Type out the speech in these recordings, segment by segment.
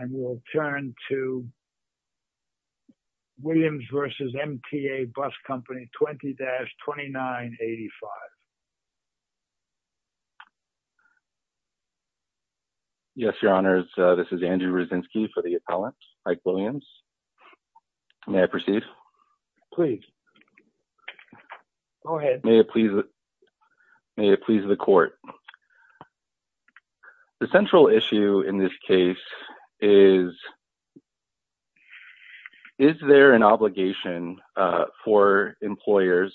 and we'll turn to Williams v. MTA Bus Company 20-2985. Yes, Your Honors, this is Andrew Ryszynski for the appellant, Mike Williams. May I proceed? Please. Go ahead. May it please the court. The central issue in this case is, is there an obligation for employers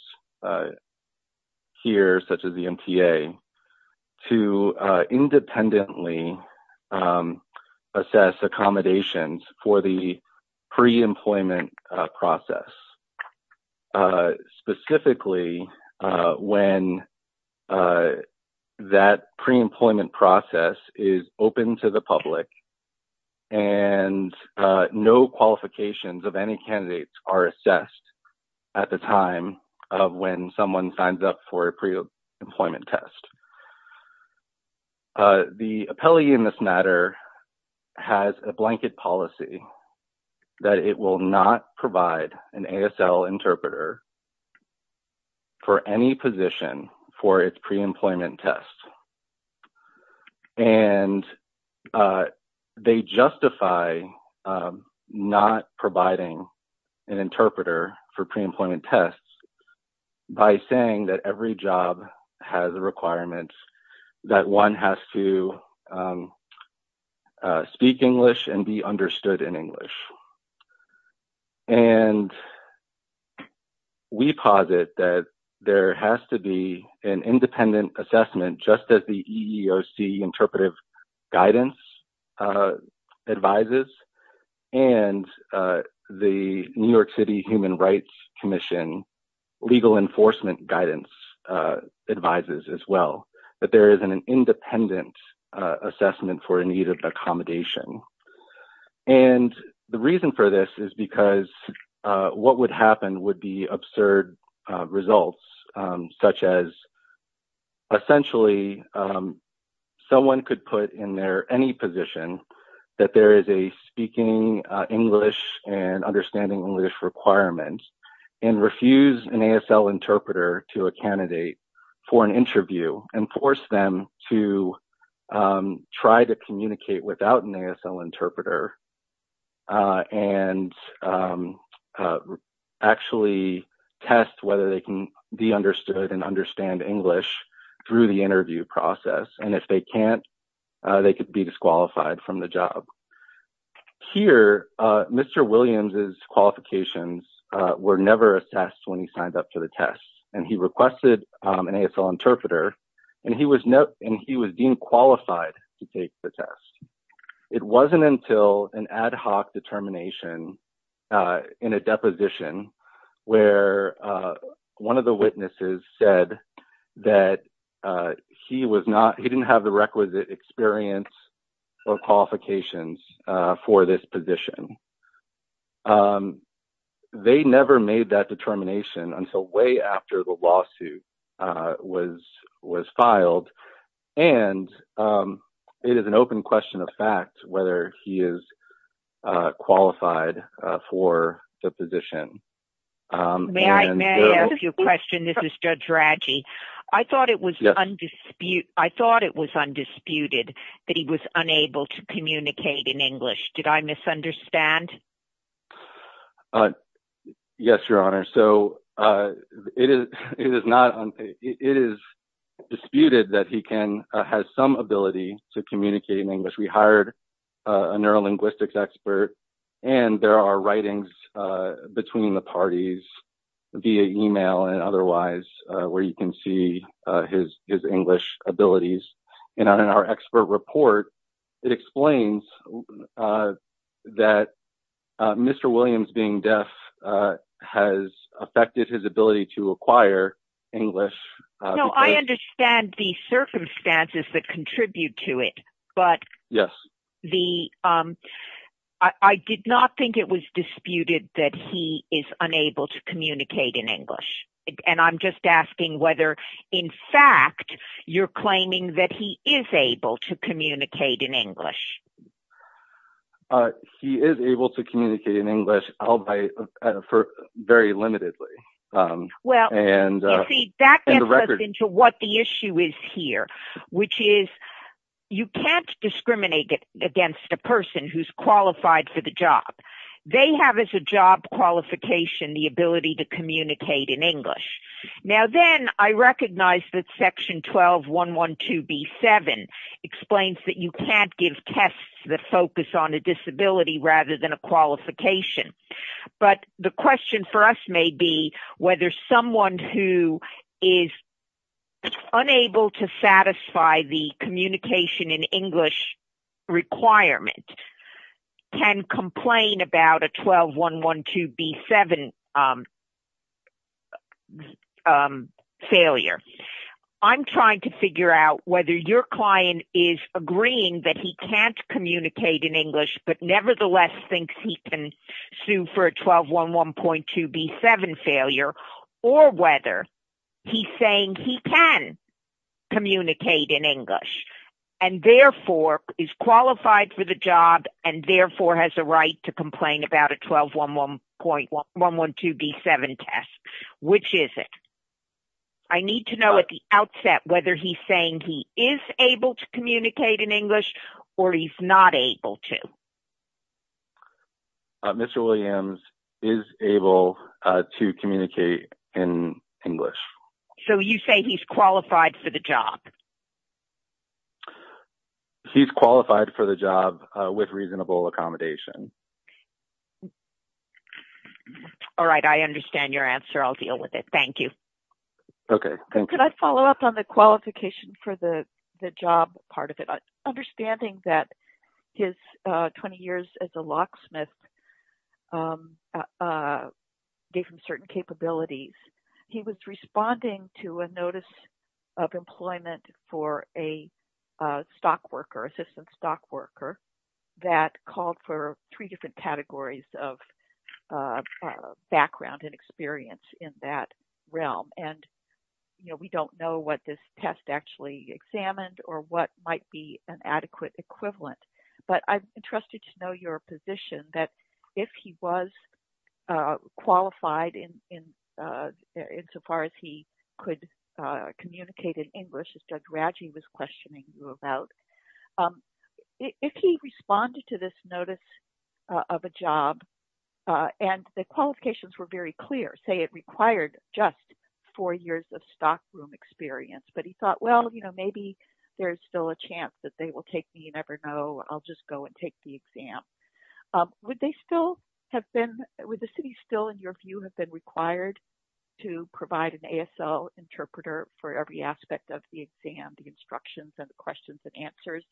here, such as the MTA, to independently assess accommodations for the pre-employment process? Specifically, when that pre-employment process is open to the public and no qualifications of any candidates are assessed at the time of when someone signs up for a pre-employment test. The appellee in this matter has a blanket policy that it will not provide an ASL interpreter for any position for its pre-employment test. And they justify not providing an interpreter for pre-employment tests by saying that every job has the requirements that one has to speak English and be understood in English. And we posit that there has to be an independent assessment just as the EEOC interpretive guidance advises and the New York City Human Rights Commission legal enforcement guidance advises as well, that there is an independent assessment for a need of accommodation. And the reason for this is because what would happen would be absurd results, such as essentially someone could put in there any position that there is a speaking English and understanding English requirement and refuse an ASL interpreter to a candidate for an interview and force them to try to communicate without an ASL interpreter and actually test whether they can be understood and understand English through the interview process. And if they can't, they could be disqualified from the job. Here, Mr. Williams' qualifications were never assessed when he signed up for the test. And he requested an ASL interpreter, and he was deemed qualified to take the test. It wasn't until an ad hoc determination in a deposition where one of the witnesses said that he didn't have the requisite experience or qualifications for this position. They never made that determination until way after the lawsuit was filed. And it is an open question of fact whether he is qualified for the position. May I ask you a question? This is Judge Raggi. I thought it was undisputed that he was unable to communicate in English. Did I misunderstand? Yes, Your Honor. So, it is disputed that he has some ability to communicate in English. We hired a neurolinguistics expert, and there are writings between the parties via email and otherwise where you can see his English abilities. And in our expert report, it explains that Mr. Williams being deaf has affected his ability to acquire English. No, I understand the circumstances that contribute to it, but I did not think it was disputed that he is unable to communicate in English. And I'm just asking whether, in fact, you're claiming that he is able to communicate in English. He is able to communicate in English albeit very limitedly. Well, you see, that gets us into what the issue is here, which is you can't discriminate against a person who's qualified for the job. They have as a job qualification the ability to communicate in English. Now then, I recognize that Section 12.112.B.7 explains that you can't give tests that focus on a disability rather than a qualification. But the question for us may be whether someone who is unable to satisfy the communication in English requirement can complain about a 12.112.B.7 failure. I'm trying to figure out whether your client is agreeing that he can't communicate in English but nevertheless thinks he can sue for a 12.112.B.7 failure or whether he's saying he can communicate in English and therefore is qualified for the job and therefore has a right to complain about a 12.112.B.7 test. Which is it? I need to know at the outset whether he's saying he is able to communicate in English or he's not able to. Mr. Williams is able to communicate in English. So you say he's qualified for the job? He's qualified for the job with reasonable accommodation. All right. I understand your answer. I'll deal with it. Thank you. Okay. Can I follow up on the qualification for the job part of it? Understanding that his 20 years as a locksmith gave him certain capabilities, he was responding to a notice of employment for a stockworker, assistant stockworker, that called for three different categories of background and experience in that realm. And, you know, we don't know what this test actually examined or what might be an adequate equivalent. But I'm interested to know your position that if he was qualified in so far as he could communicate in English, as Judge Raggi was questioning you about, if he responded to this notice of a job and the qualifications were very clear, say it required just four years of stockroom experience, but he thought, well, you know, maybe there's still a chance that they will take me. You never know. I'll just go and take the exam. Would the city still, in your view, have been required to provide an ASL interpreter for every aspect of the exam, the instructions and the questions and answers,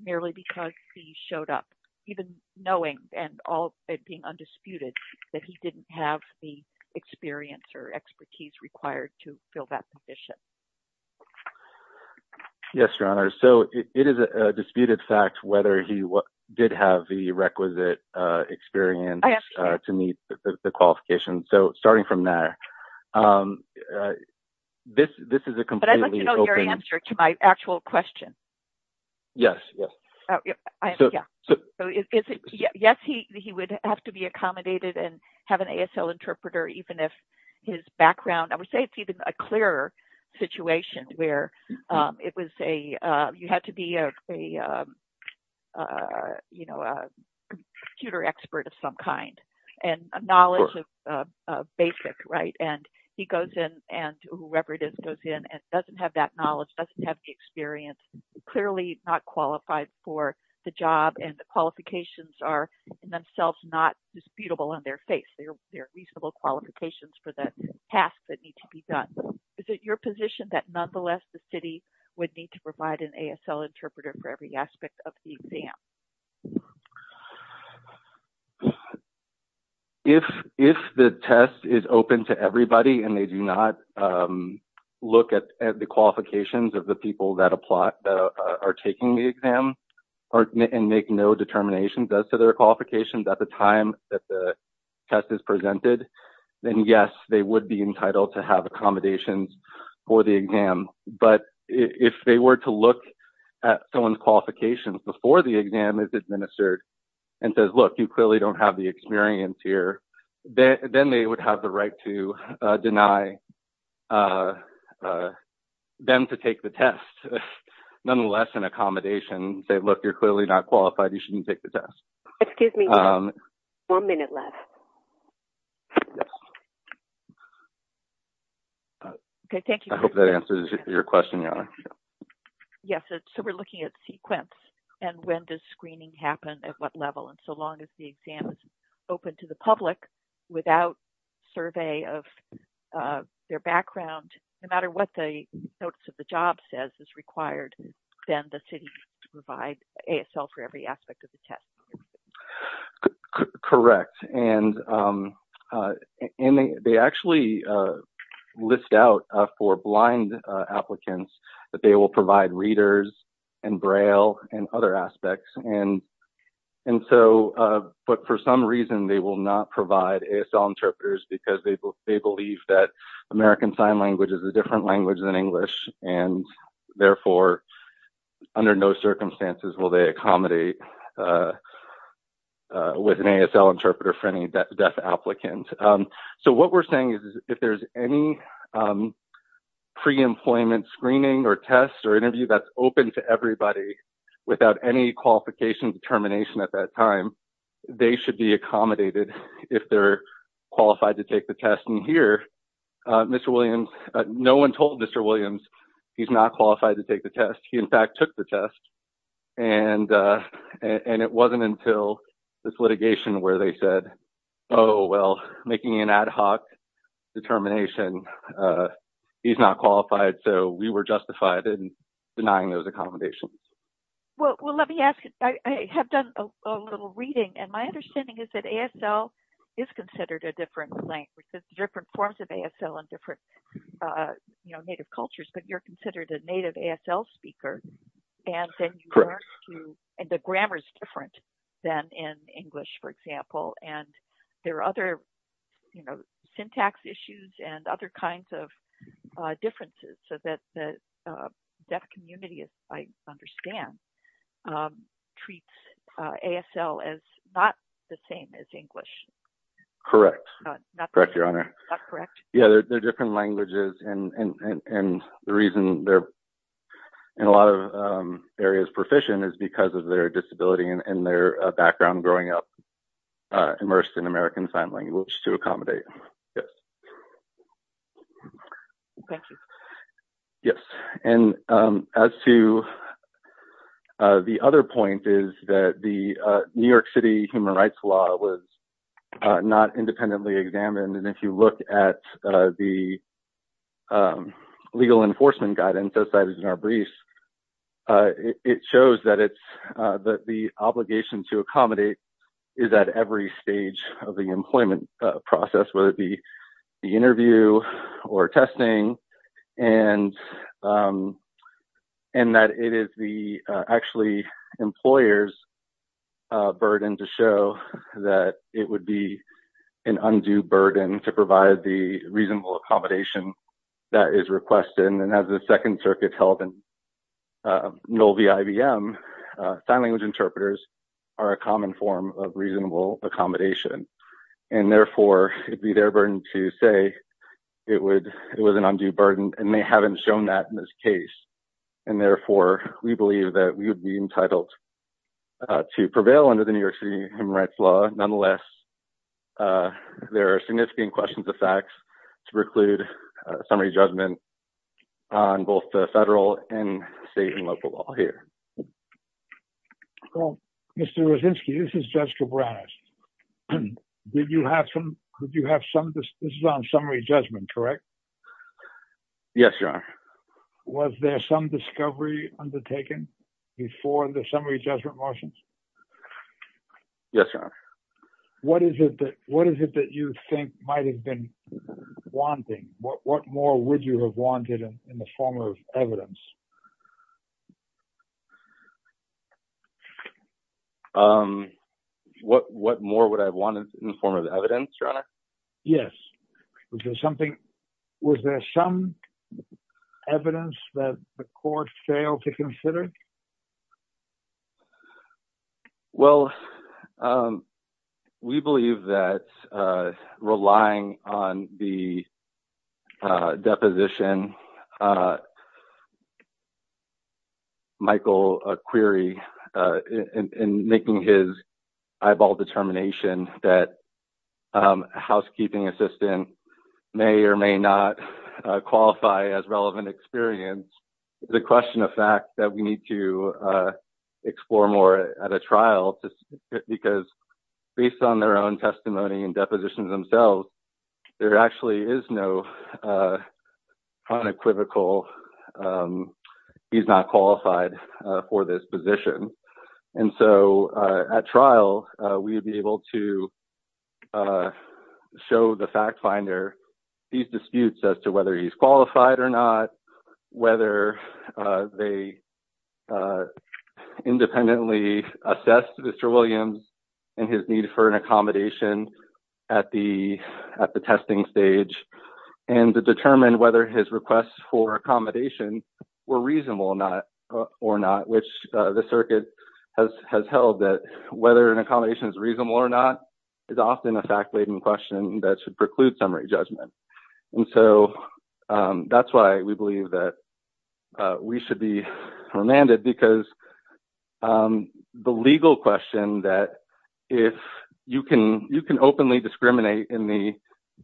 merely because he showed up, even knowing and being undisputed, that he didn't have the experience or expertise required to fill that position? Yes, Your Honor. So it is a disputed fact whether he did have the requisite experience to meet the qualifications. So starting from there, this is a completely open... But I'd like to know your answer to my actual question. Yes, yes. Yes, he would have to be accommodated and have an ASL interpreter, even if his background, I would say it's even a clearer situation where it was a, you had to be a, you know, a computer expert of some kind and a knowledge of basic, right? And he goes in and whoever it is goes in and doesn't have that knowledge, doesn't have the experience, clearly not qualified for the job and the qualifications are in themselves not disputable on their face. They're reasonable qualifications for the tasks that need to be done. Is it your position that nonetheless the city would need to provide an ASL interpreter for every aspect of the exam? If the test is open to everybody and they do not look at the qualifications of the people that are taking the exam and make no determinations as to their qualifications at the time that the test is presented, then yes, they would be entitled to have accommodations for the exam. But if they were to look at someone's qualifications before the exam is administered and says, look, you clearly don't have the experience here, then they would have the right to deny them to take the test. Nonetheless, an accommodation, say, look, you're clearly not qualified. You shouldn't take the test. Excuse me. One minute left. Okay, thank you. I hope that answers your question. Yes, so we're looking at sequence and when does screening happen at what level? And so long as the exam is open to the public without survey of their background, no matter what the notes of the job says is required, then the city provides ASL for every aspect of the test. Correct. And they actually list out for blind applicants that they will provide readers and Braille and other aspects. And so but for some reason they will not provide ASL interpreters because they believe that American Sign Language is a different language than English and therefore under no circumstances will they accommodate with an ASL interpreter for any deaf applicant. So what we're saying is if there's any pre-employment screening or test or interview that's open to everybody without any qualification determination at that time, they should be accommodated if they're qualified to take the test. Mr. Williams, no one told Mr. Williams he's not qualified to take the test. He, in fact, took the test. And it wasn't until this litigation where they said, oh, well, making an ad hoc determination, he's not qualified. So we were justified in denying those accommodations. Well, let me ask. I have done a little reading. And my understanding is that ASL is considered a different language. There's different forms of ASL in different native cultures. But you're considered a native ASL speaker. Correct. And the grammar is different than in English, for example. And there are other syntax issues and other kinds of differences so that the deaf community, as I understand, treats ASL as not the same as English. Correct. Correct, Your Honor. Not correct? Yeah, they're different languages. And the reason they're in a lot of areas proficient is because of their disability and their background growing up immersed in American Sign Language to accommodate. Yes. Thank you. Yes. And as to the other point is that the New York City human rights law was not independently examined. And if you look at the legal enforcement guidance, as cited in our briefs, it shows that the obligation to accommodate is at every stage of the employment process, whether it be the interview or testing. And that it is actually the employer's burden to show that it would be an undue burden to provide the reasonable accommodation that is requested. And as the Second Circuit held in Nolvi-IBM, sign language interpreters are a common form of reasonable accommodation. And therefore, it would be their burden to say it was an undue burden, and they haven't shown that in this case. And therefore, we believe that we would be entitled to prevail under the New York City human rights law. Nonetheless, there are significant questions of facts to preclude a summary judgment on both the federal and state and local law here. Well, Mr. Rozinski, this is Judge Cabreras. Did you have some, did you have some, this is on summary judgment, correct? Yes, Your Honor. Was there some discovery undertaken before the summary judgment motions? Yes, Your Honor. What is it that you think might have been wanting? What more would you have wanted in the form of evidence? What more would I have wanted in the form of evidence, Your Honor? Yes. Was there something, was there some evidence that the court failed to consider? Well, we believe that relying on the deposition, Michael query in making his eyeball determination that a housekeeping assistant may or may not qualify as relevant experience, the question of fact that we need to explore more at a trial, because based on their own testimony and depositions themselves, there actually is no unequivocal, he's not qualified for this position. And so, at trial, we'd be able to show the fact finder these disputes as to whether he's qualified or not, whether they independently assess Mr. Williams and his need for an accommodation at the, at the testing stage, and to determine whether his requests for accommodation were reasonable or not, which the circuit has held that whether an accommodation is reasonable or not is often a fact-laden question that should preclude summary judgment. And so that's why we believe that we should be remanded because the legal question that if you can, you can openly discriminate in the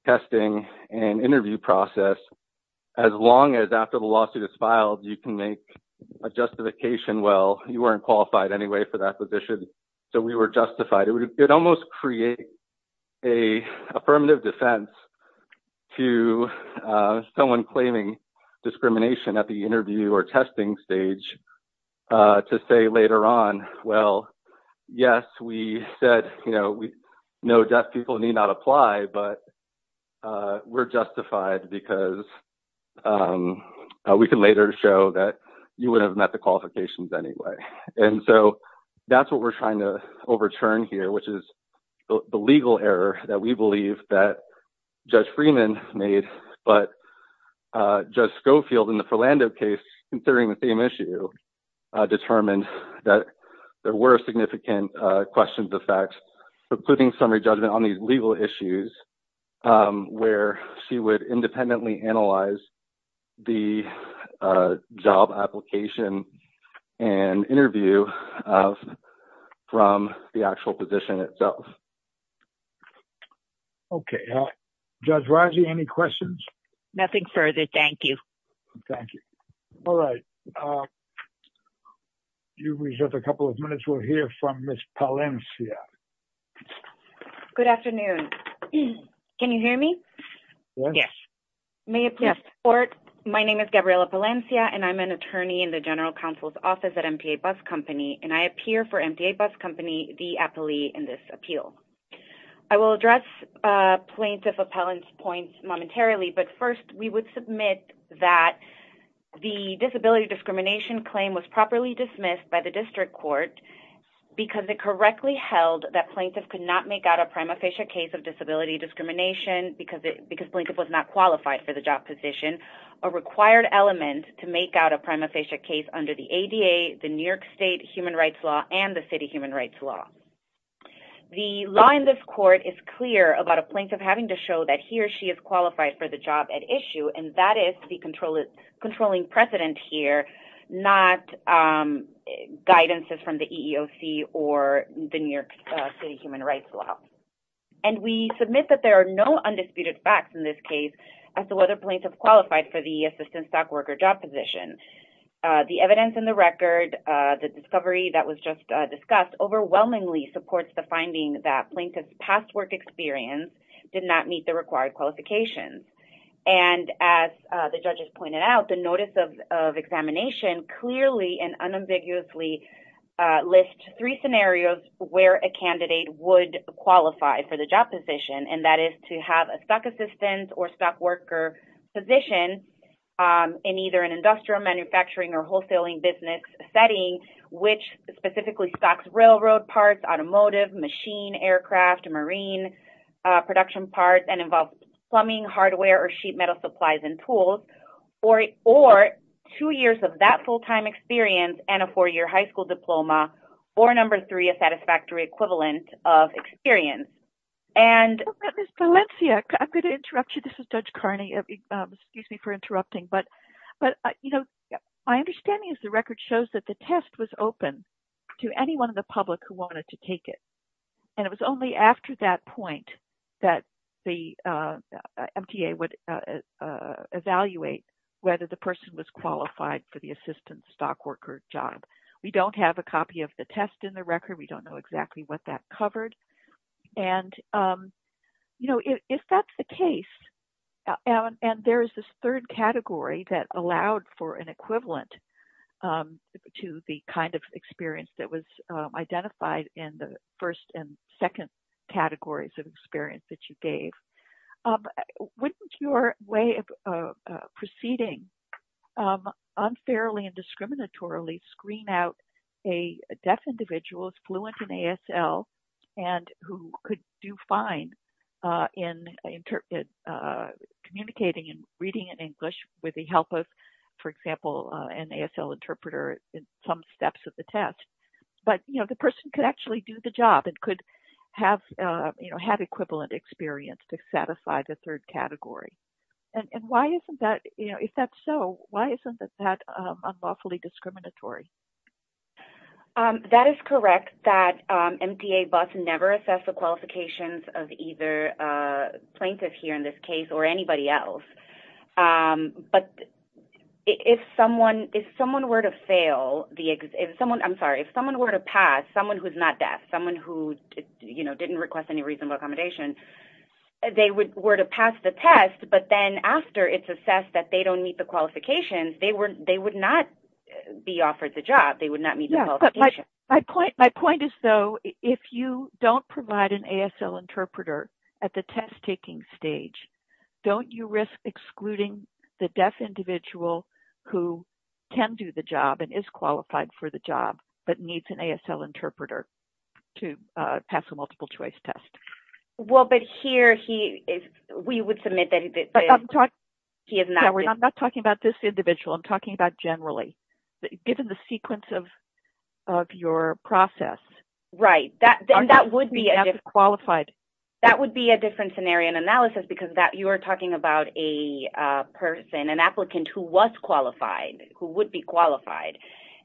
testing and interview process, as long as after the lawsuit is filed, you can make a justification. Well, you weren't qualified anyway for that position. So we were justified. It almost creates a affirmative defense to someone claiming discrimination at the interview or testing stage to say later on. Well, yes, we said, you know, we know deaf people need not apply, but we're justified because we can later show that you would have met the qualifications anyway. And so that's what we're trying to overturn here, which is the legal error that we believe that Judge Freeman made. But Judge Schofield in the Philando case, considering the same issue, determined that there were significant questions of facts, including summary judgment on these legal issues where she would independently analyze the job application and interview from the actual position itself. OK, Judge Rossi, any questions? Nothing further. Thank you. Thank you. All right. You have a couple of minutes. We'll hear from Miss Palencia. Good afternoon. Can you hear me? Yes. My name is Gabriela Palencia, and I'm an attorney in the general counsel's office at MTA Bus Company, and I appear for MTA Bus Company, the appellee in this appeal. I will address Plaintiff Appellant's point momentarily, but first we would submit that the disability discrimination claim was properly dismissed by the district court because it correctly held that plaintiff could not make out a prima facie case of disability discrimination because Plaintiff was not qualified for the job position, a required element to make out a prima facie case under the ADA, the New York State human rights law, and the city human rights law. The law in this court is clear about a plaintiff having to show that he or she is qualified for the job at issue, and that is the controlling precedent here, not guidances from the EEOC or the New York City human rights law. We submit that there are no undisputed facts in this case as to whether plaintiff qualified for the assistant stock worker job position. The evidence in the record, the discovery that was just discussed, overwhelmingly supports the finding that plaintiff's past work experience did not meet the required qualifications. As the judges pointed out, the notice of examination clearly and unambiguously lists three scenarios where a candidate would qualify for the job position, and that is to have a stock assistant or stock worker position in either an industrial manufacturing or wholesaling business setting, which specifically stocks railroad parts, automotive, machine, aircraft, marine production parts, and involves plumbing, hardware, or sheet metal supplies and tools, or two years of that full-time experience and a four-year high school diploma, or number three, a satisfactory equivalent of experience. Valencia, I'm going to interrupt you. This is Judge Carney. Excuse me for interrupting, but my understanding is the record shows that the test was open to anyone in the public who wanted to take it, and it was only after that point that the MTA would evaluate whether the person was qualified for the assistant stock worker job. We don't have a copy of the test in the record. We don't know exactly what that covered. If that's the case, and there is this third category that allowed for an equivalent to the kind of experience that was identified in the first and second categories of experience that you gave, wouldn't your way of proceeding unfairly and discriminatorily screen out a deaf individual who is fluent in ASL and who could do fine in communicating and reading in English with the help of, for example, an ASL interpreter in some steps of the test? The person could actually do the job and could have had equivalent experience to satisfy the third category. If that's so, why isn't that unlawfully discriminatory? That is correct that MTA busts never assess the qualifications of either plaintiff here in this case or anybody else. But if someone were to pass, someone who's not deaf, someone who didn't request any reasonable accommodation, they were to pass the test, but then after it's assessed that they don't meet the qualifications, they would not be offered the job. They would not meet the qualifications. My point is, though, if you don't provide an ASL interpreter at the test-taking stage, don't you risk excluding the deaf individual who can do the job and is qualified for the job but needs an ASL interpreter to pass a multiple-choice test? Well, but here we would submit that he is not deaf. I'm not talking about this individual. I'm talking about generally, given the sequence of your process. Right. That would be a different scenario in analysis because you are talking about a person, an applicant who was qualified, who would be qualified.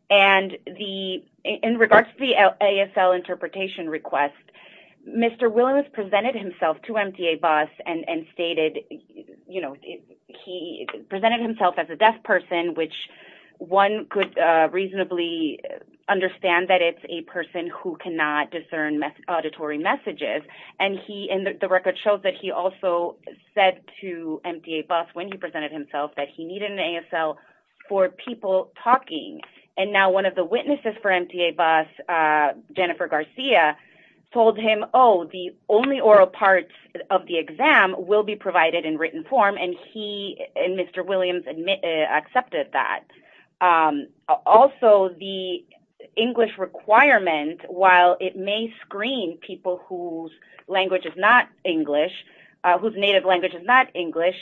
In regards to the ASL interpretation request, Mr. Williams presented himself to MTA busts and stated he presented himself as a deaf person, which one could reasonably understand that it's a person who cannot discern auditory messages. The record shows that he also said to MTA busts when he presented himself that he needed an ASL for people talking. Now, one of the witnesses for MTA busts, Jennifer Garcia, told him, oh, the only oral parts of the exam will be provided in written form, and he and Mr. Williams accepted that. Also, the English requirement, while it may screen people whose language is not English, whose native language is not English,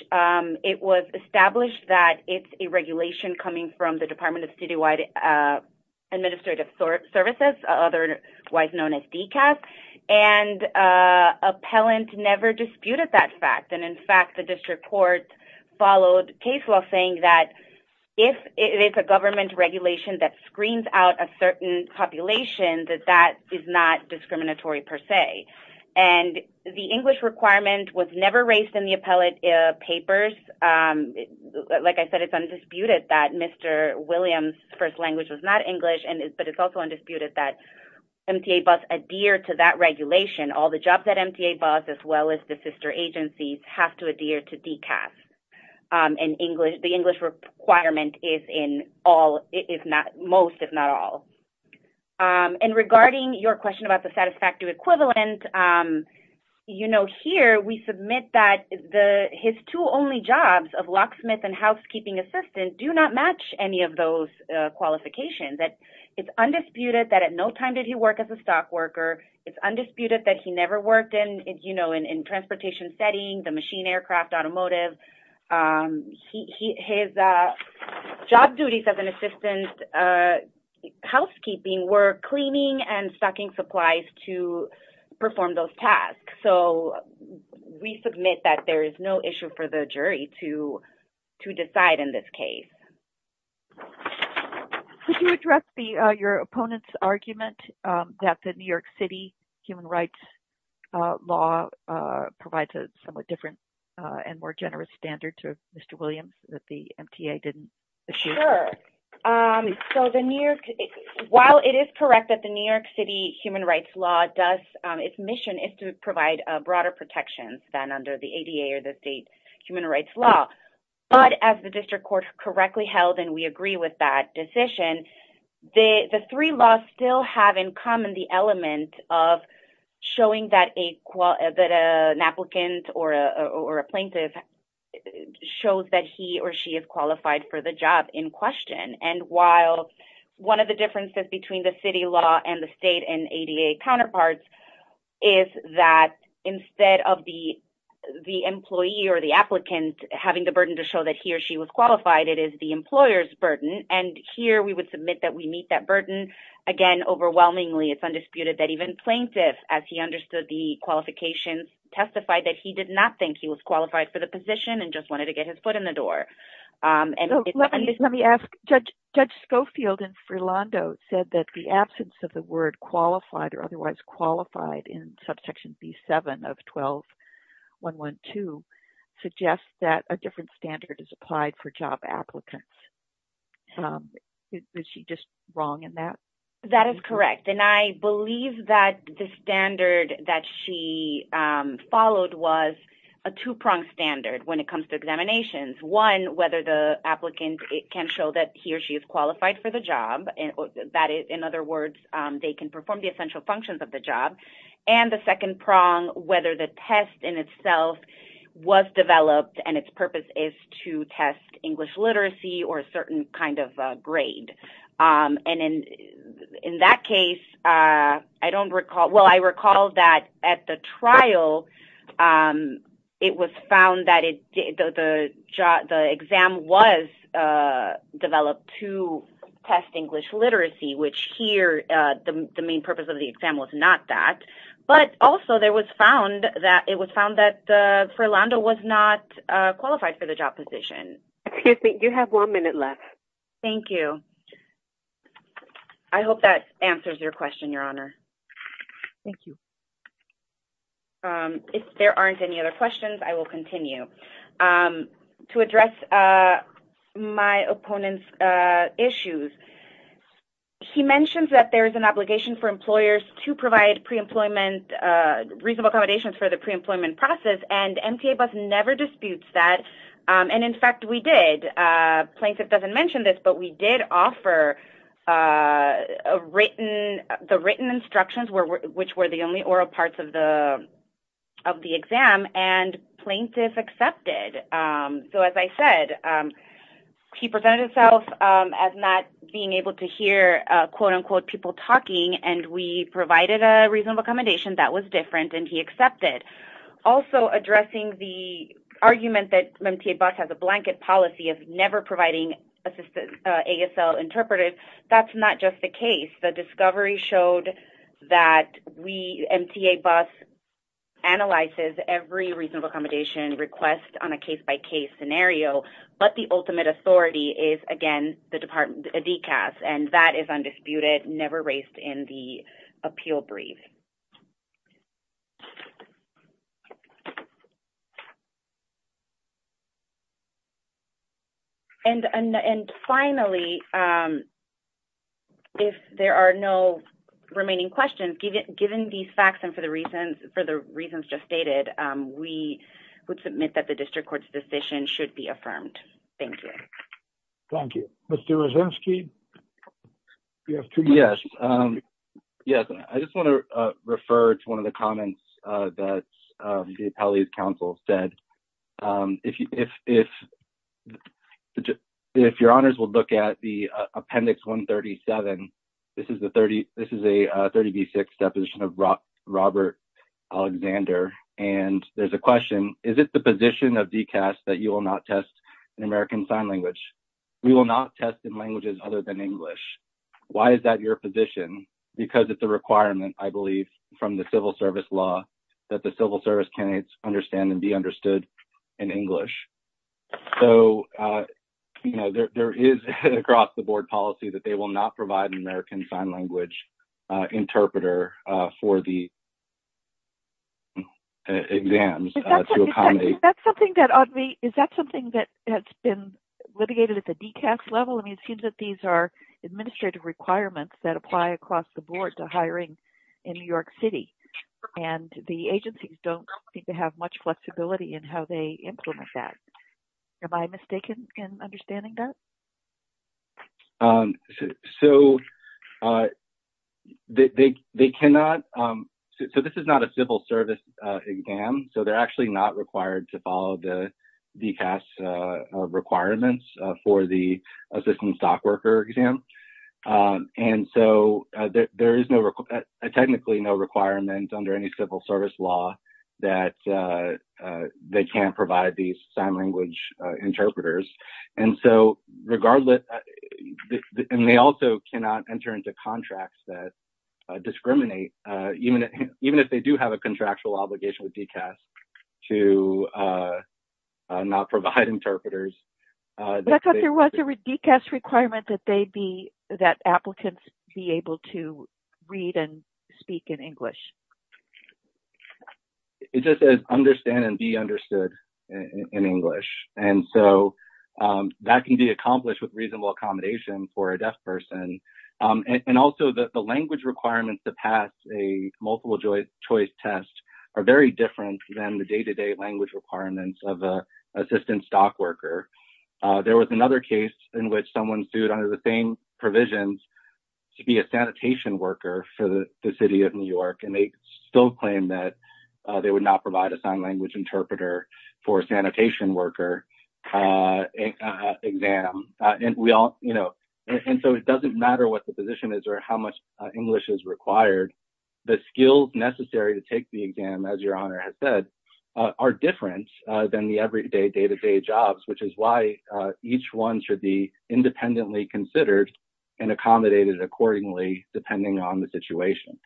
it was established that it's a regulation coming from the Department of Citywide Administrative Services, otherwise known as DCAS. Appellant never disputed that fact. In fact, the district court followed case law saying that if it's a government regulation that screens out a certain population, that that is not discriminatory per se. The English requirement was never raised in the appellate papers. Like I said, it's undisputed that Mr. Williams' first language was not English, but it's also undisputed that MTA busts adhere to that regulation. All the jobs that MTA busts, as well as the sister agencies, have to adhere to DCAS. The English requirement is in most, if not all. And regarding your question about the satisfactory equivalent, you know, here we submit that his two only jobs of locksmith and housekeeping assistant do not match any of those qualifications. It's undisputed that at no time did he work as a stock worker. It's undisputed that he never worked in, you know, in a transportation setting, the machine, aircraft, automotive. His job duties as an assistant housekeeping were cleaning and stocking supplies to perform those tasks. So, we submit that there is no issue for the jury to decide in this case. Could you address your opponent's argument that the New York City human rights law provides a somewhat different and more generous standard to Mr. Williams that the MTA didn't issue? Sure. So, the New York – while it is correct that the New York City human rights law does – its mission is to provide broader protections than under the ADA or the state human rights law. But as the district court correctly held and we agree with that decision, the three laws still have in common the element of showing that an applicant or a plaintiff shows that he or she is qualified for the job in question. And while one of the differences between the city law and the state and ADA counterparts is that instead of the employee or the applicant having the burden to show that he or she was qualified, it is the employer's burden. And here, we would submit that we meet that burden. Again, overwhelmingly, it's undisputed that even plaintiffs, as he understood the qualifications, testified that he did not think he was qualified for the position and just wanted to get his foot in the door. Let me ask, Judge Schofield in Freelando said that the absence of the word qualified or otherwise qualified in subsection B-7 of 12-112 suggests that a different standard is applied for job applicants. Is she just wrong in that? That is correct. And I believe that the standard that she followed was a two-pronged standard when it comes to examinations. One, whether the applicant can show that he or she is qualified for the job. In other words, they can perform the essential functions of the job. And the second prong, whether the test in itself was developed and its purpose is to test English literacy or a certain kind of grade. And in that case, I don't recall – well, I recall that at the trial, it was found that the exam was developed to test English literacy, which here, the main purpose of the exam was not that. But also, it was found that Freelando was not qualified for the job position. Excuse me, you have one minute left. Thank you. I hope that answers your question, Your Honor. Thank you. If there aren't any other questions, I will continue. To address my opponent's issues, he mentions that there is an obligation for employers to provide pre-employment – reasonable accommodations for the pre-employment process, and MTABUS never disputes that. And, in fact, we did. Plaintiff doesn't mention this, but we did offer the written instructions, which were the only oral parts of the exam, and plaintiff accepted. So, as I said, he presented himself as not being able to hear, quote-unquote, people talking, and we provided a reasonable accommodation that was different, and he accepted. Also, addressing the argument that MTABUS has a blanket policy of never providing ASL interpreters, that's not just the case. The discovery showed that MTABUS analyzes every reasonable accommodation request on a case-by-case scenario, but the ultimate authority is, again, the DECAS, and that is undisputed, never raised in the appeal brief. And, finally, if there are no remaining questions, given these facts and for the reasons just stated, we would submit that the district court's decision should be affirmed. Thank you. Thank you. Mr. Rosensky, you have two minutes. Yes. Yes, I just want to refer to one of the comments that the appellate counsel said. If your honors will look at the Appendix 137, this is a 30B6 deposition of Robert Alexander, and there's a question. Is it the position of DECAS that you will not test in American Sign Language? We will not test in languages other than English. Why is that your position? Because it's a requirement, I believe, from the civil service law that the civil service candidates understand and be understood in English. So, you know, there is across the board policy that they will not provide an American Sign Language interpreter for the exams to accommodate. Is that something that has been litigated at the DECAS level? I mean, it seems that these are administrative requirements that apply across the board to hiring in New York City, and the agencies don't seem to have much flexibility in how they implement that. Am I mistaken in understanding that? So, they cannot – so, this is not a civil service exam, so they're actually not required to follow the DECAS requirements for the assistant stockworker exam. And so, there is technically no requirement under any civil service law that they can't provide these sign language interpreters. And so, regardless – and they also cannot enter into contracts that discriminate. Even if they do have a contractual obligation with DECAS to not provide interpreters. I thought there was a DECAS requirement that they be – that applicants be able to read and speak in English. It just says, understand and be understood in English. And so, that can be accomplished with reasonable accommodation for a deaf person. And also, the language requirements to pass a multiple choice test are very different than the day-to-day language requirements of an assistant stockworker. There was another case in which someone sued under the same provisions to be a sanitation worker for the City of New York. And they still claim that they would not provide a sign language interpreter for a sanitation worker exam. And we all – and so, it doesn't matter what the position is or how much English is required. The skills necessary to take the exam, as your Honor has said, are different than the everyday, day-to-day jobs. Which is why each one should be independently considered and accommodated accordingly depending on the situation.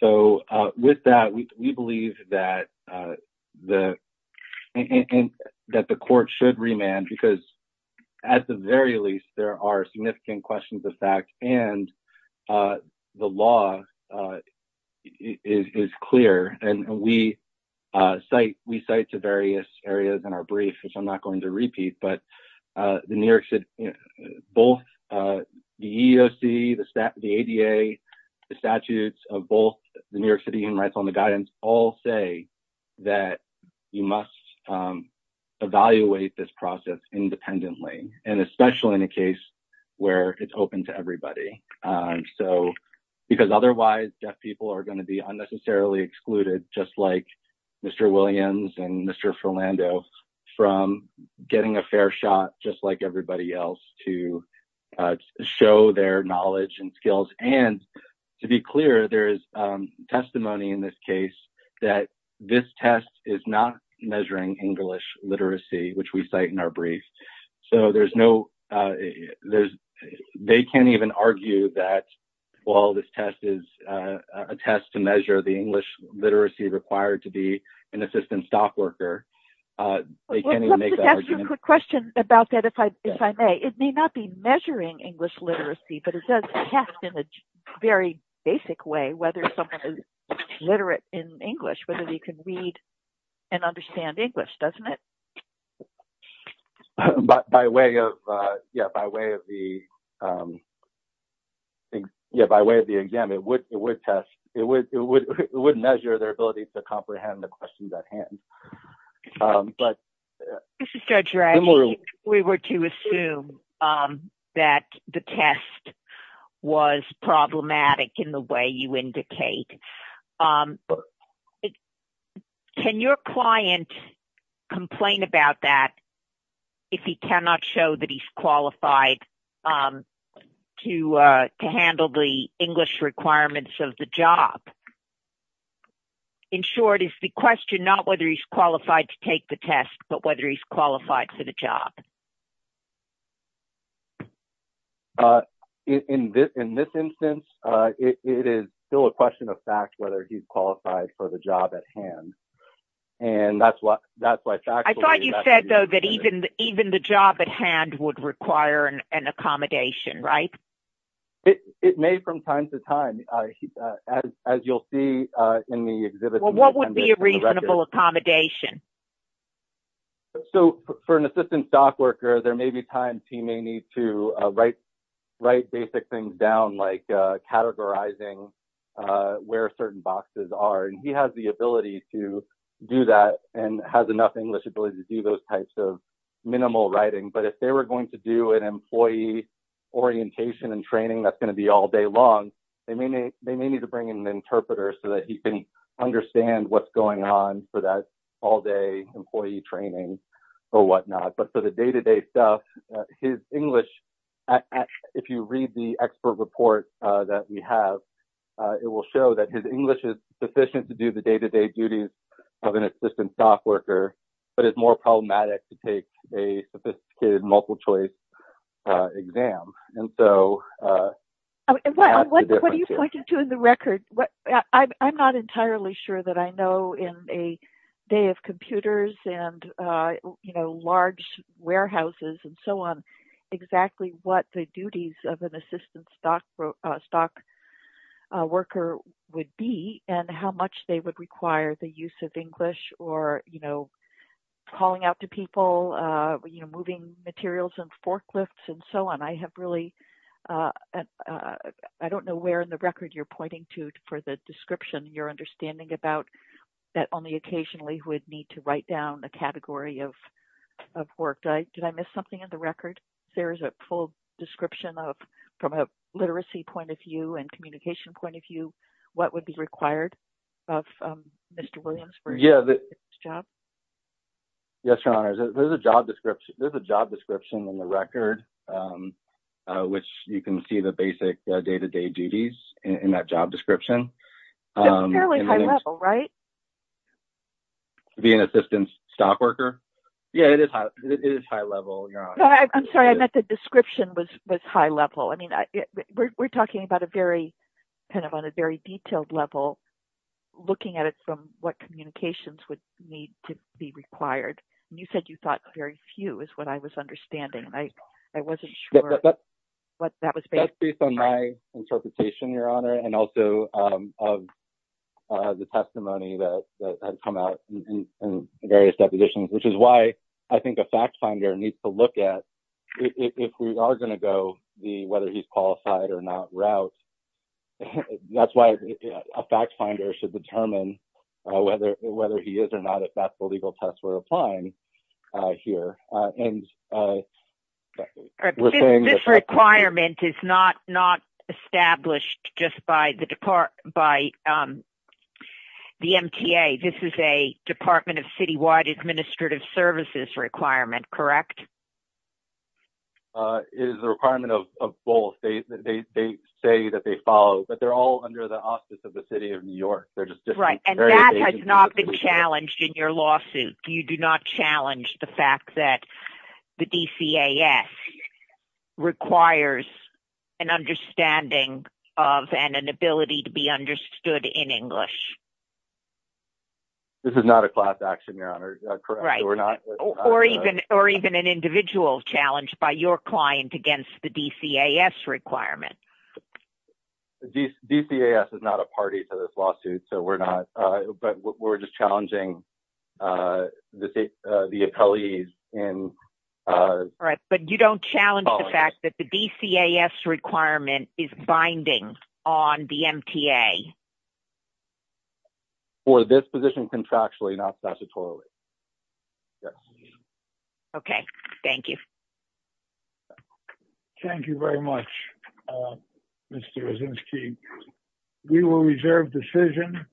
So, with that, we believe that the court should remand because, at the very least, there are significant questions of fact and the law is clear. And we cite to various areas in our brief, which I'm not going to repeat, but both the EEOC, the ADA, the statutes of both the New York City Human Rights Law and the guidance all say that you must evaluate this process independently. And especially in a case where it's open to everybody. So, because otherwise, deaf people are going to be unnecessarily excluded, just like Mr. Williams and Mr. Philando, from getting a fair shot, just like everybody else, to show their knowledge and skills. And, to be clear, there is testimony in this case that this test is not measuring English literacy, which we cite in our brief. So, there's no, they can't even argue that while this test is a test to measure the English literacy required to be an assistant staff worker, they can't even make that argument. Let me ask you a quick question about that, if I may. It may not be measuring English literacy, but it does test in a very basic way whether someone is literate in English, whether they can read and understand English, doesn't it? By way of, yeah, by way of the exam, it would test, it would measure their ability to comprehend the questions at hand. This is Judge Raggi. We were to assume that the test was problematic in the way you indicate. Can your client complain about that if he cannot show that he's qualified to handle the English requirements of the job? In short, it's the question, not whether he's qualified to take the test, but whether he's qualified for the job. In this instance, it is still a question of fact whether he's qualified for the job at hand. And that's why, that's why factually that's... I thought you said, though, that even the job at hand would require an accommodation, right? It may from time to time, as you'll see in the exhibit. What would be a reasonable accommodation? So, for an assistant stock worker, there may be times he may need to write basic things down, like categorizing where certain boxes are. And he has the ability to do that and has enough English ability to do those types of minimal writing. But if they were going to do an employee orientation and training that's going to be all day long, they may need to bring in an interpreter so that he can understand what's going on for that all day employee training or whatnot. But for the day-to-day stuff, his English, if you read the expert report that we have, it will show that his English is sufficient to do the day-to-day duties of an assistant stock worker, but it's more problematic to take a sophisticated multiple choice exam. What are you pointing to in the record? I'm not entirely sure that I know in a day of computers and large warehouses and so on exactly what the duties of an assistant stock worker would be and how much they would require the use of English or calling out to people, moving materials and forklifts and so on. I don't know where in the record you're pointing to for the description you're understanding about that only occasionally would need to write down a category of work. Did I miss something in the record? If there is a full description from a literacy point of view and communication point of view, what would be required of Mr. Williams for his job? Yes, Your Honor. There's a job description in the record, which you can see the basic day-to-day duties in that job description. Fairly high level, right? To be an assistant stock worker? Yeah, it is high level, Your Honor. I'm sorry. I meant the description was high level. We're talking about a very detailed level, looking at it from what communications would need to be required. You said you thought very few is what I was understanding. I wasn't sure what that was based on. Based on my interpretation, Your Honor, and also of the testimony that has come out in various depositions, which is why I think a fact finder needs to look at if we are going to go the whether he's qualified or not route. That's why a fact finder should determine whether he is or not, if that's the legal test we're applying here. This requirement is not established just by the MTA. This is a Department of Citywide Administrative Services requirement, correct? It is a requirement of both. They say that they follow, but they're all under the auspices of the City of New York. That has not been challenged in your lawsuit. You do not challenge the fact that the DCAS requires an understanding of and an ability to be understood in English. This is not a class action, Your Honor. Or even an individual challenge by your client against the DCAS requirement. DCAS is not a party to this lawsuit, but we're just challenging the appellees. But you don't challenge the fact that the DCAS requirement is binding on the MTA? For this position contractually, not statutorily. Okay, thank you. Thank you very much, Mr. Osinski. We will reserve decision,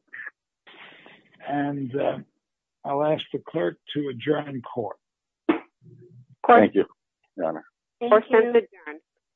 and I'll ask the clerk to adjourn court. Court is adjourned.